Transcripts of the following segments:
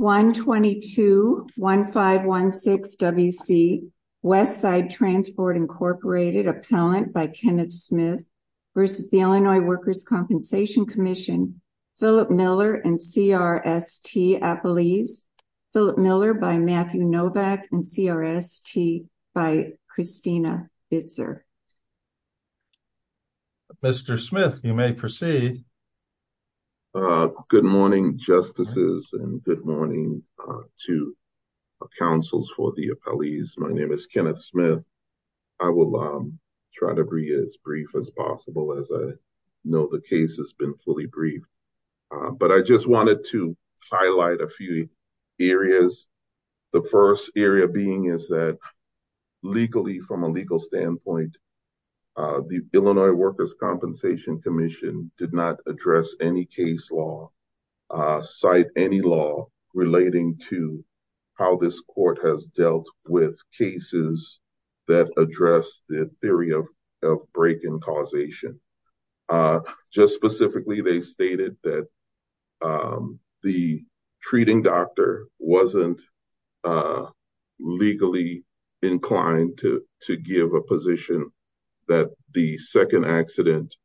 1-22-1516 W.C. Westside Transport, Inc. Appellant by Kenneth Smith v. Illinois Workers' Compensation Comm'n Philip Miller and C.R.S.T. Appellees Philip Miller by Matthew Novak and C.R.S.T. by Christina Bitzer Mr. Smith, you may proceed. Good morning, Justices, and good morning to the Councils for the Appellees. My name is Kenneth Smith. I will try to be as brief as possible, as I know the case has been fully briefed, but I just wanted to highlight a few areas. The first area being is that legally, from a legal standpoint, the Illinois Workers' Compensation Commission did not address any case law, cite any law relating to how this Court has dealt with cases that address the theory of break-in causation. Just specifically, they stated that the treating doctor wasn't legally inclined to give a position that the second accident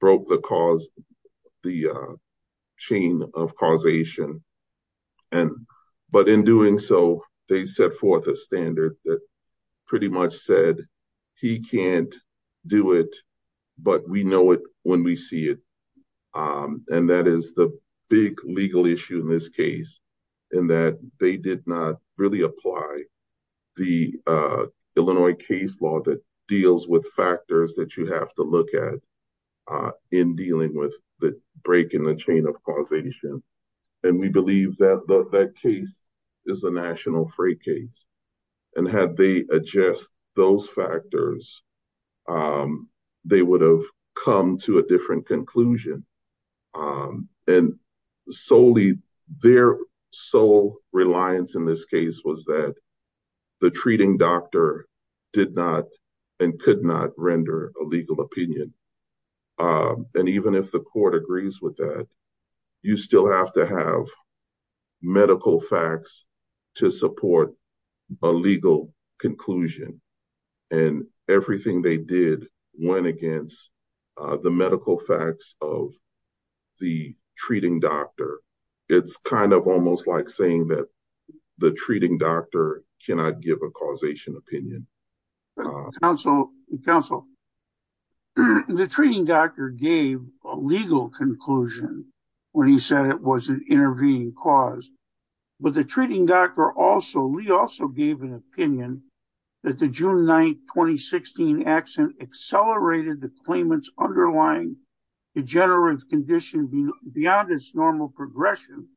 broke the chain of causation, but in doing so, they set forth a standard that pretty much said he can't do it, but we know it when we see it, and that is the big legal issue in this case, in that they did not really apply the Illinois case law that deals with factors that you have to look at in dealing with the break in the chain of causation, and we believe that that case is a national fray case, and had they addressed those factors, they would have come to a different conclusion, and solely their sole reliance in this case was that the treating doctor did not and could not render a legal opinion, and even if the Court agrees with that, you still have to have medical facts to support a legal conclusion, and everything they did went against the medical facts of the treating doctor. It's kind of almost like saying that the treating doctor cannot give a causation opinion. Counsel, the treating doctor gave a legal conclusion when he said it was an intervening cause, but the treating doctor also, he also gave an opinion that the June 9, 2016 accident accelerated the claimant's underlying degenerative condition beyond its normal progression,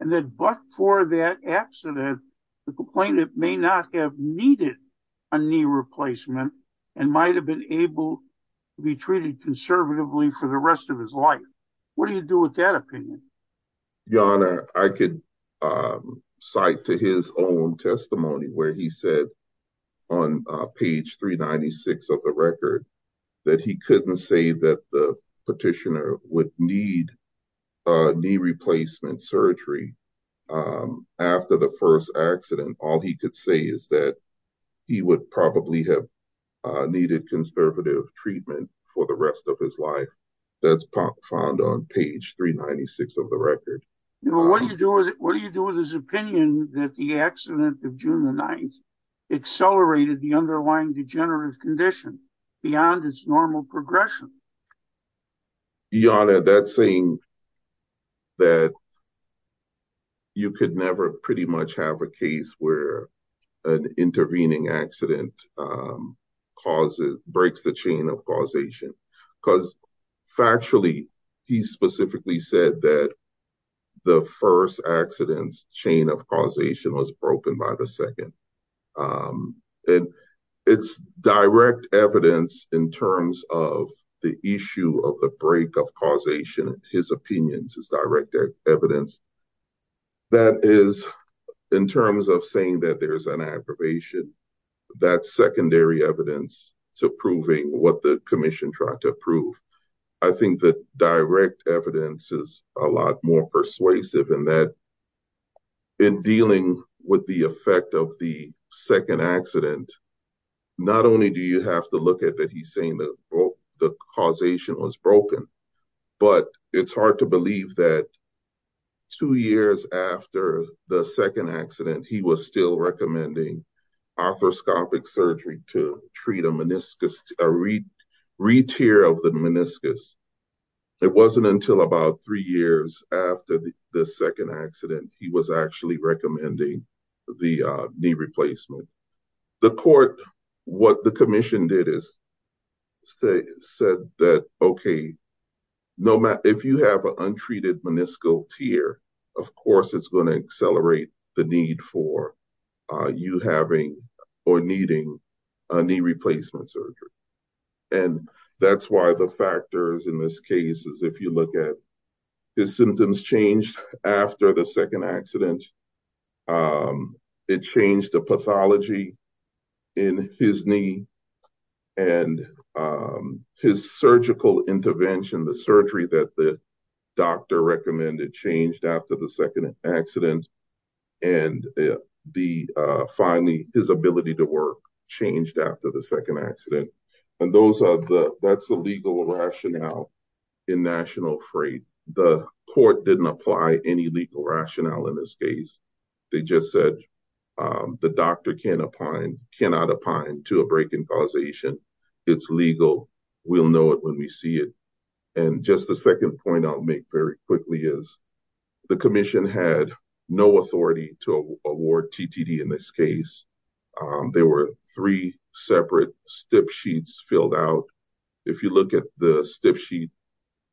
and that but for that accident, the complainant may not have needed a knee replacement and might have been able to be treated conservatively for the rest of his life. What do you do with that opinion? Your Honor, I could cite to his own testimony where he said on page 396 of the record that he couldn't say that the petitioner would need a knee replacement surgery after the first accident. All he could say is that he would probably have needed conservative treatment for the rest of his life. That's found on page 396 of the record. Your Honor, what do you do with his opinion that the accident of June 9 accelerated the underlying degenerative condition beyond its normal progression? Your Honor, that's saying that you could never pretty much have a case where an intervening accident breaks the chain of causation, because factually, he specifically said that the first accident's chain of causation was broken by the second. And it's direct evidence in terms of the issue of the break of causation, his opinion, it's direct evidence. That is, in terms of saying that there's an aggravation, that's secondary evidence to proving what the commission tried to prove. I think that direct evidence is a lot more persuasive in that in dealing with the effect of the second accident, not only do you have to look at that he's saying that the causation was broken, but it's hard to believe that two years after the second accident, he was still recommending arthroscopic surgery to treat a meniscus, a re-tear of the meniscus. It wasn't until about three years after the second accident, he was actually recommending the knee replacement. The court, what the commission did is said that, okay, if you have an untreated meniscal tear, of course, it's going to accelerate the need for you having or needing a knee replacement surgery. And that's why the factors in this case is if you look at his symptoms changed after the second accident, it changed the pathology in his knee and his surgical intervention, the surgery that the doctor recommended changed after the second accident. And finally, his ability to work changed after the second accident. And that's the legal rationale in national freight. The they just said the doctor can't opine, cannot opine to a break in causation. It's legal. We'll know it when we see it. And just the second point I'll make very quickly is the commission had no authority to award TTD in this case. There were three separate step sheets filled out. If you look at the step sheet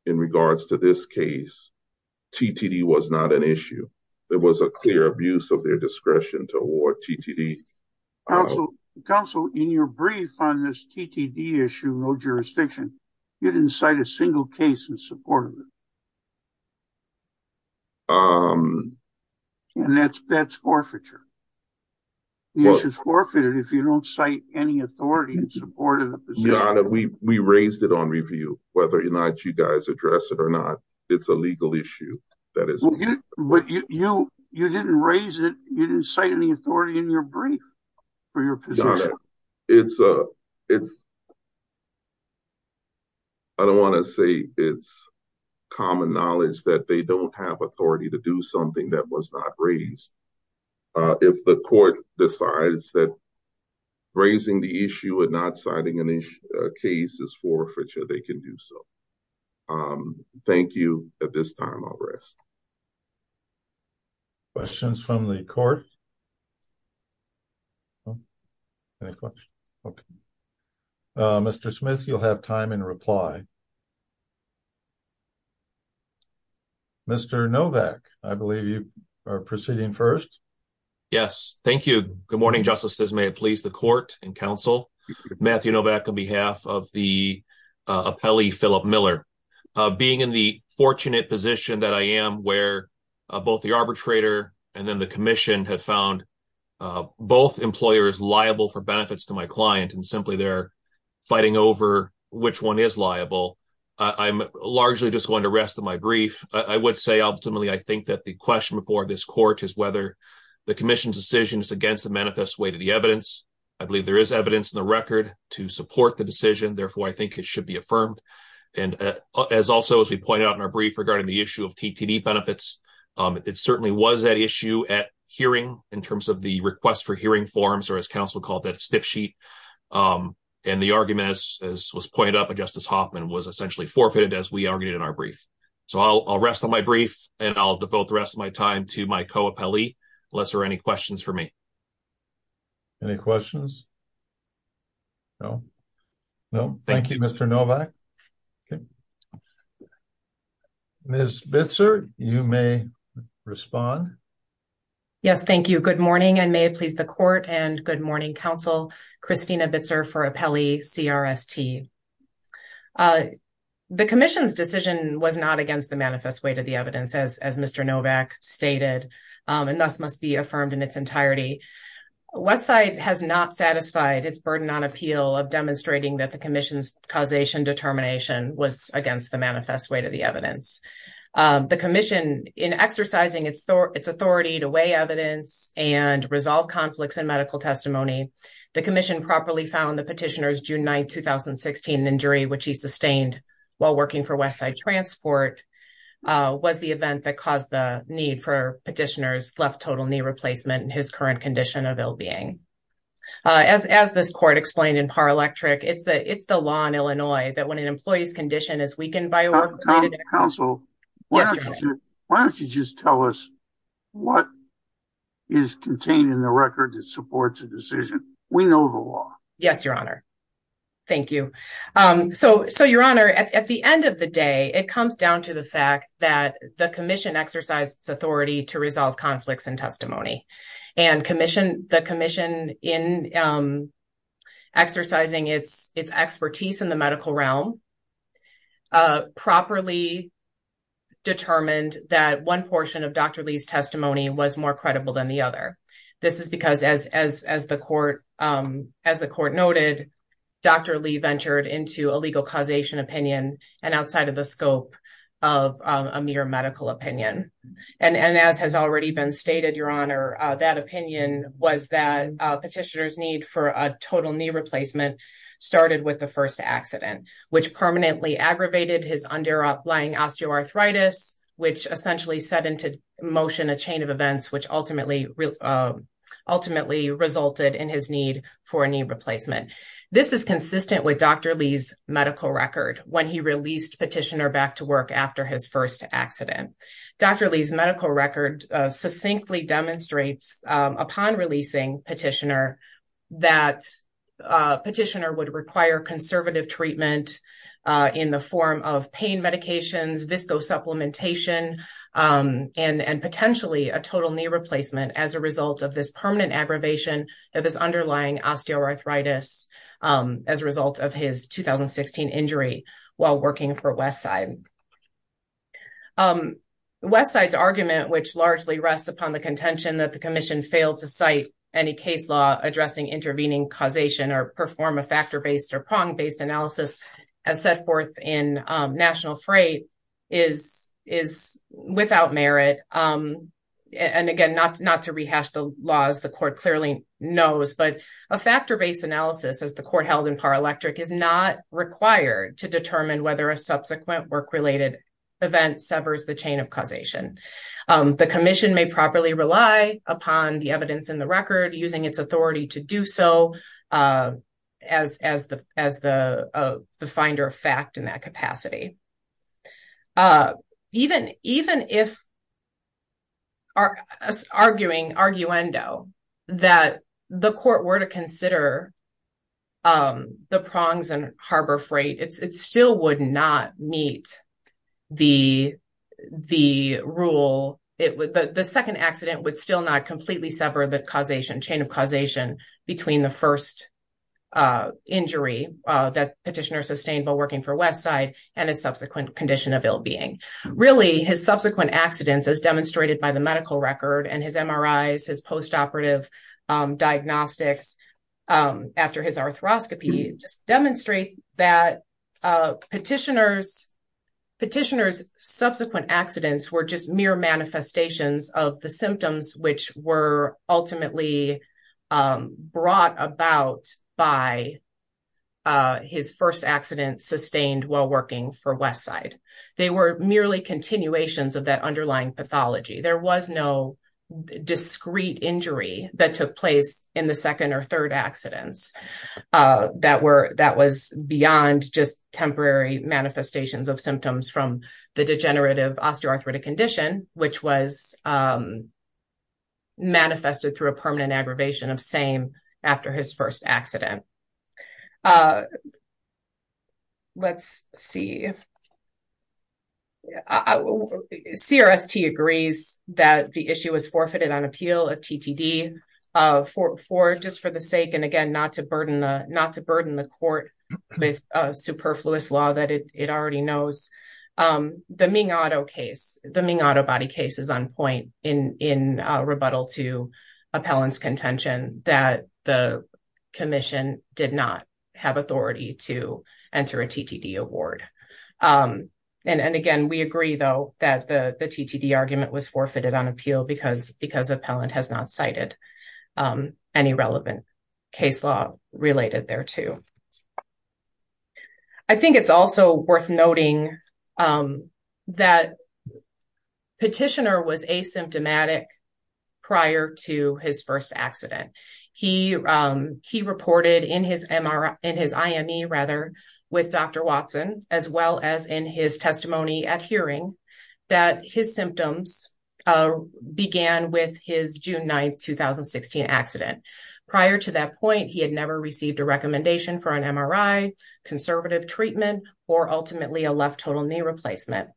in regards to this case, TTD was not an issue. There was a clear abuse of their discretion to award TTD. Counsel, in your brief on this TTD issue, no jurisdiction, you didn't cite a single case in support of it. And that's forfeiture. The issue is forfeited if you don't cite any authority in support of the position. Your Honor, we raised it on review, whether or not you guys address it or not. It's a legal issue. But you didn't raise it. You didn't cite any authority in your brief for your position. Your Honor, I don't want to say it's common knowledge that they don't have authority to something that was not raised. If the court decides that raising the issue and not citing a case is forfeiture, they can do so. Thank you. At this time, I'll rest. Questions from the court? Mr. Smith, you'll have time in reply. Mr. Novak, I believe you are proceeding first. Yes. Thank you. Good morning, Justices. May it please the court and counsel. Matthew Novak on behalf of the appellee, Philip Miller. Being in the fortunate position that I am where both the arbitrator and then the commission have found both employers liable for benefits to my client and simply they're fighting over which one is liable, I'm largely just going to rest on my brief. I would say, ultimately, I think that the question before this court is whether the commission's decision is against the manifest way to the evidence. I believe there is evidence in the record to support the decision. Therefore, I think it should be affirmed. And as also, as we pointed out in our brief regarding the issue of TTD benefits, it certainly was that hearing in terms of the request for hearing forms or as counsel called that stiff sheet. And the argument, as was pointed out by Justice Hoffman, was essentially forfeited as we argued in our brief. So I'll rest on my brief and I'll devote the rest of my time to my co-appellee unless there are any questions for me. Any questions? No. No. Thank you, Mr. Novak. Okay. Ms. Bitzer, you may respond. Yes, thank you. Good morning and may it please the court and good morning, counsel. Christina Bitzer for appellee CRST. The commission's decision was not against the manifest way to the evidence as Mr. Novak stated and thus must be affirmed in its entirety. Westside has not satisfied its burden on appeal of demonstrating that the commission's causation determination was against the manifest way to the evidence. The commission in exercising its authority to weigh evidence and resolve conflicts in medical testimony, the commission properly found the petitioner's June 9, 2016 injury, which he sustained while working for Westside Transport, was the event that caused the need for petitioner's left total knee replacement and his current condition of ill being. As this court explained in PAR Electric, it's the law in Illinois that when an employee's condition is weakened by a work-related accident. Counsel, why don't you just tell us what is contained in the record that supports a decision? We know the law. Yes, your honor. Thank you. So, your honor, at the end of the day, it comes down to the fact that the commission exercised its authority to resolve its expertise in the medical realm, properly determined that one portion of Dr. Lee's testimony was more credible than the other. This is because as the court noted, Dr. Lee ventured into a legal causation opinion and outside of the scope of a mere medical opinion. And as has started with the first accident, which permanently aggravated his underlying osteoarthritis, which essentially set into motion a chain of events, which ultimately resulted in his need for a knee replacement. This is consistent with Dr. Lee's medical record when he released petitioner back to work after his first accident. Dr. Lee's medical record succinctly demonstrates upon releasing petitioner that petitioner would require conservative treatment in the form of pain medications, VSCO supplementation, and potentially a total knee replacement as a result of this permanent aggravation of his underlying osteoarthritis as a result of his 2016 injury while working for Westside. Westside's argument, which largely rests upon the contention that the commission failed to cite any case law addressing intervening causation or perform a factor-based or prong-based analysis as set forth in National Freight is without merit. And again, not to rehash the laws the court clearly knows, but a factor-based analysis as the court held in Paralectic is not required to determine whether a subsequent work-related event severs the chain of causation. The commission may properly rely upon the evidence in the record using its authority to do so as the finder of fact in that capacity. Even if arguing, arguendo, that the court were to consider the prongs and harbor freight, it still would not meet the rule. The second accident would still not completely sever the causation, chain of causation between the first injury that petitioner sustained while working for Westside and a subsequent condition of ill-being. Really, his subsequent accidents as demonstrated by the medical record and his MRIs, his post-operative diagnostics after his arthroscopy demonstrate that petitioner's subsequent accidents were just mere manifestations of the symptoms which were ultimately brought about by his first accident sustained while working for Westside. They were merely continuations of that underlying pathology. There was no discrete injury that took place in the second or third accidents that was beyond just temporary manifestations of symptoms from the degenerative osteoarthritic condition which was manifested through a permanent aggravation of same after his first accident. Let's see. CRST agrees that the issue was forfeited on appeal, a TTD, just for the sake, and again, not to burden the court with a superfluous law that it already knows. The Ming auto case, the Ming auto body case is on point in rebuttal to appellant's the commission did not have authority to enter a TTD award. Again, we agree though that the TTD argument was forfeited on appeal because appellant has not cited any relevant case law related thereto. I think it's also worth noting that petitioner was asymptomatic prior to his first accident. He reported in his IME rather with Dr. Watson as well as in his testimony at hearing that his symptoms began with his June 9th, 2016 accident. Prior to that point, he had never received a recommendation for an MRI, conservative treatment, or ultimately a left total knee replacement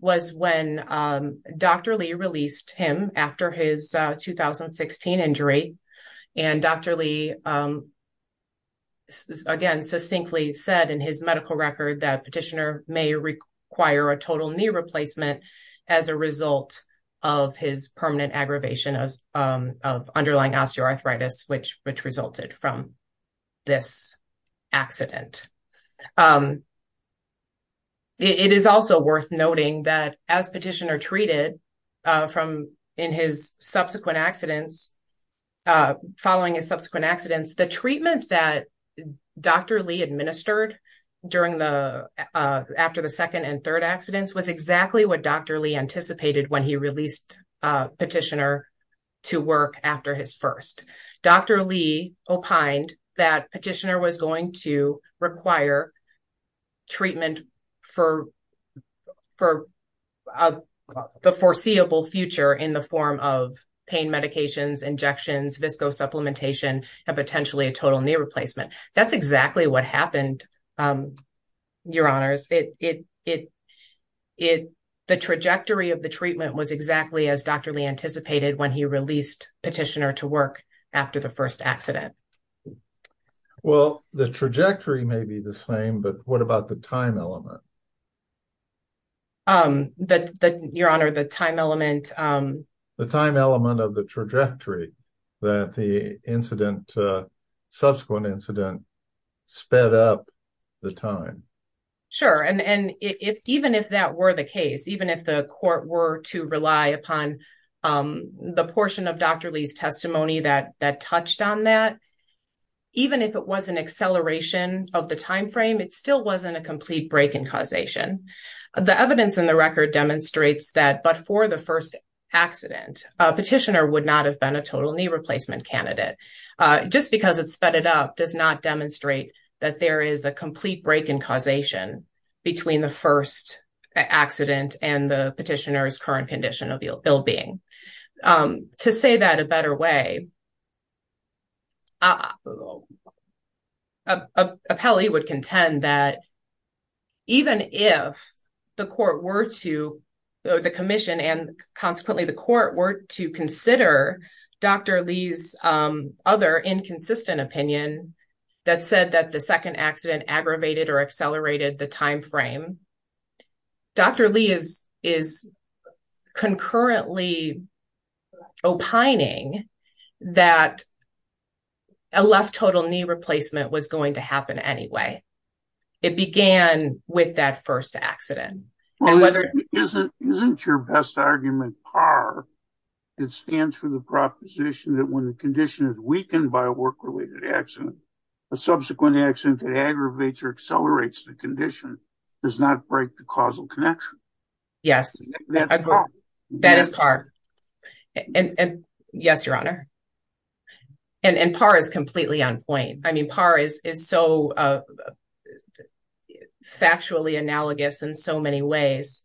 was when Dr. Lee released him after his 2016 injury. Dr. Lee, again, succinctly said in his medical record that petitioner may require a total knee replacement as a result of his permanent aggravation of underlying osteoarthritis, which resulted from this accident. It is also worth noting that as petitioner treated from in his subsequent accidents, following his subsequent accidents, the treatment that Dr. Lee administered after the second and third accidents was exactly what Dr. Lee anticipated when he released petitioner to work after his first. Dr. Lee opined that petitioner was going to require treatment for the foreseeable future in the form of pain medications, injections, VSCO supplementation, and potentially a total knee replacement. That's exactly what happened, your honors. The trajectory of the treatment was exactly as Dr. Lee anticipated when he released petitioner to work after the first accident. Well, the trajectory may be the same, but what about the time element? Your honor, the time element of the trajectory that the subsequent incident sped up the time. Sure, and even if that were the case, even if the court were to rely upon the portion of Dr. Lee's testimony that touched on that, even if it was an acceleration of the time frame, it still wasn't a complete break in causation. The evidence in accident, petitioner would not have been a total knee replacement candidate. Just because it sped it up does not demonstrate that there is a complete break in causation between the first accident and the petitioner's current condition of ill-being. To say that a petitioner would not have been a total knee replacement candidate, an appellee would contend that even if the commission and consequently the court were to consider Dr. Lee's other inconsistent opinion that said that the second accident aggravated or accelerated the condition, that a left total knee replacement was going to happen anyway. It began with that first accident. Well, isn't your best argument par that stands for the proposition that when the condition is weakened by a work-related accident, a subsequent accident that aggravates or accelerates the condition does not break the And par is completely on point. I mean, par is so factually analogous in so many ways.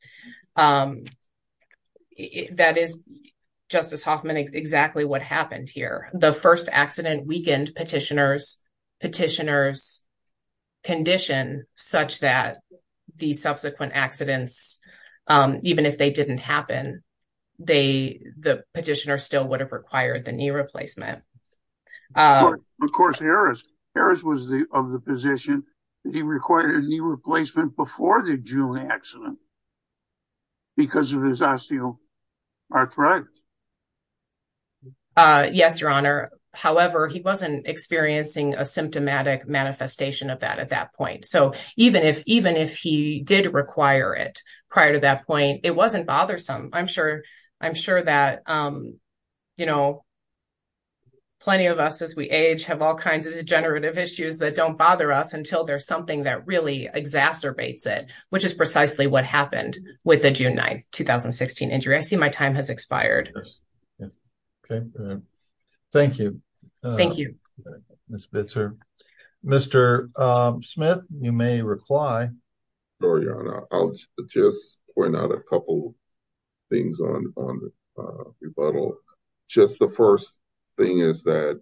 That is, Justice Hoffman, exactly what happened here. The first accident weakened petitioner's condition such that the subsequent accidents, even if they didn't happen, the petitioner still would have required the knee replacement. Of course, Harris was of the position that he required a knee replacement before the June accident because of his osteoarthritis. Yes, Your Honor. However, he wasn't experiencing a symptomatic manifestation of that at that point. So even if he did require it prior to that point, it wasn't bothersome. I'm sure that, you know, plenty of us as we age have all kinds of degenerative issues that don't bother us until there's something that really exacerbates it, which is precisely what happened with the June 9, 2016 injury. I see my time has expired. Okay. Thank you. Thank you, Ms. Bitzer. Mr. Smith, you may reply. Sure, Your Honor. I'll just point out a couple things on the rebuttal. Just the first thing is that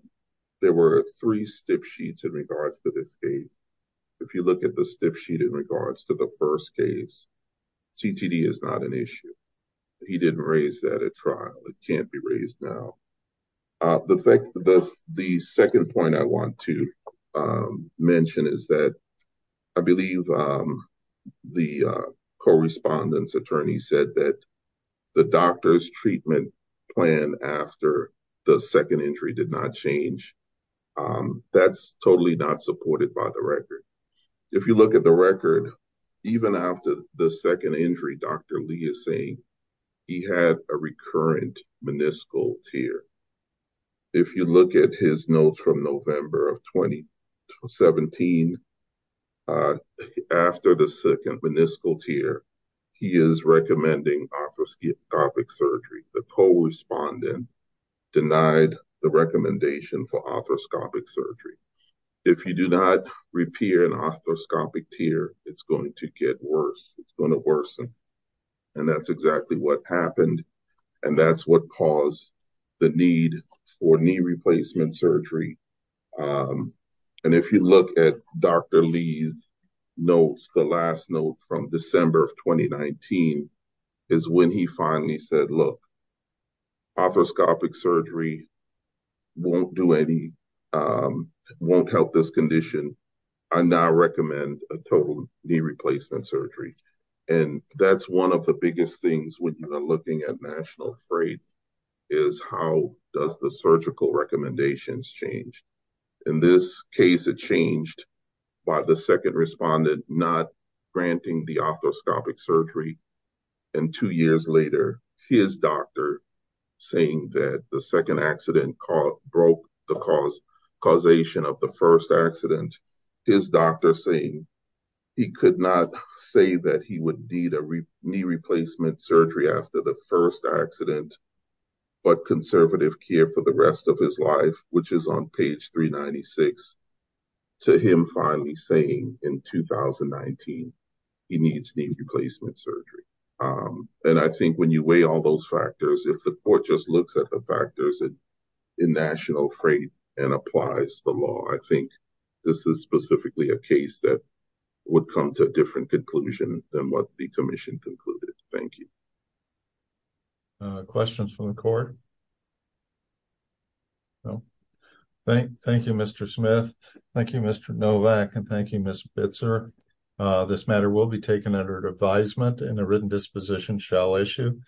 there were three stiff sheets in regards to this case. If you look at the stiff sheet in regards to the first case, CTD is not an issue. He didn't raise that at trial. It can't be raised now. The second point I want to mention is that I believe the correspondence attorney said that the doctor's treatment plan after the second injury did not change. That's totally not supported by the record. If you look at the record, even after the second injury, Dr. Lee is saying he had a recurrent meniscal tear. If you look at his notes from November of 2017, after the second meniscal tear, he is recommending arthroscopic surgery. The co-respondent denied the recommendation for arthroscopic surgery. If you do not repair an arthroscopic tear, it's going to get worse. It's going to worsen. That's exactly what happened, and that's what caused the need for knee replacement surgery. If you look at Dr. Lee's notes, the last note from December of 2019 is when he finally said, look, arthroscopic surgery won't help this knee replacement surgery. That's one of the biggest things when you are looking at national freight is how does the surgical recommendations change. In this case, it changed by the second respondent not granting the arthroscopic surgery. Two years later, his doctor saying that the second accident broke the causation of the first accident, his doctor saying he could not say that he would need a knee replacement surgery after the first accident, but conservative care for the rest of his life, which is on page 396, to him finally saying in 2019 he needs knee replacement surgery. I think when you weigh all those factors, if the court just looks at the national freight and applies the law, I think this is specifically a case that would come to a different conclusion than what the commission concluded. Thank you. Questions from the court? Thank you, Mr. Smith. Thank you, Mr. Novak, and thank you, Ms. Bitzer. This matter will be taken under advisement and a written disposition shall issue.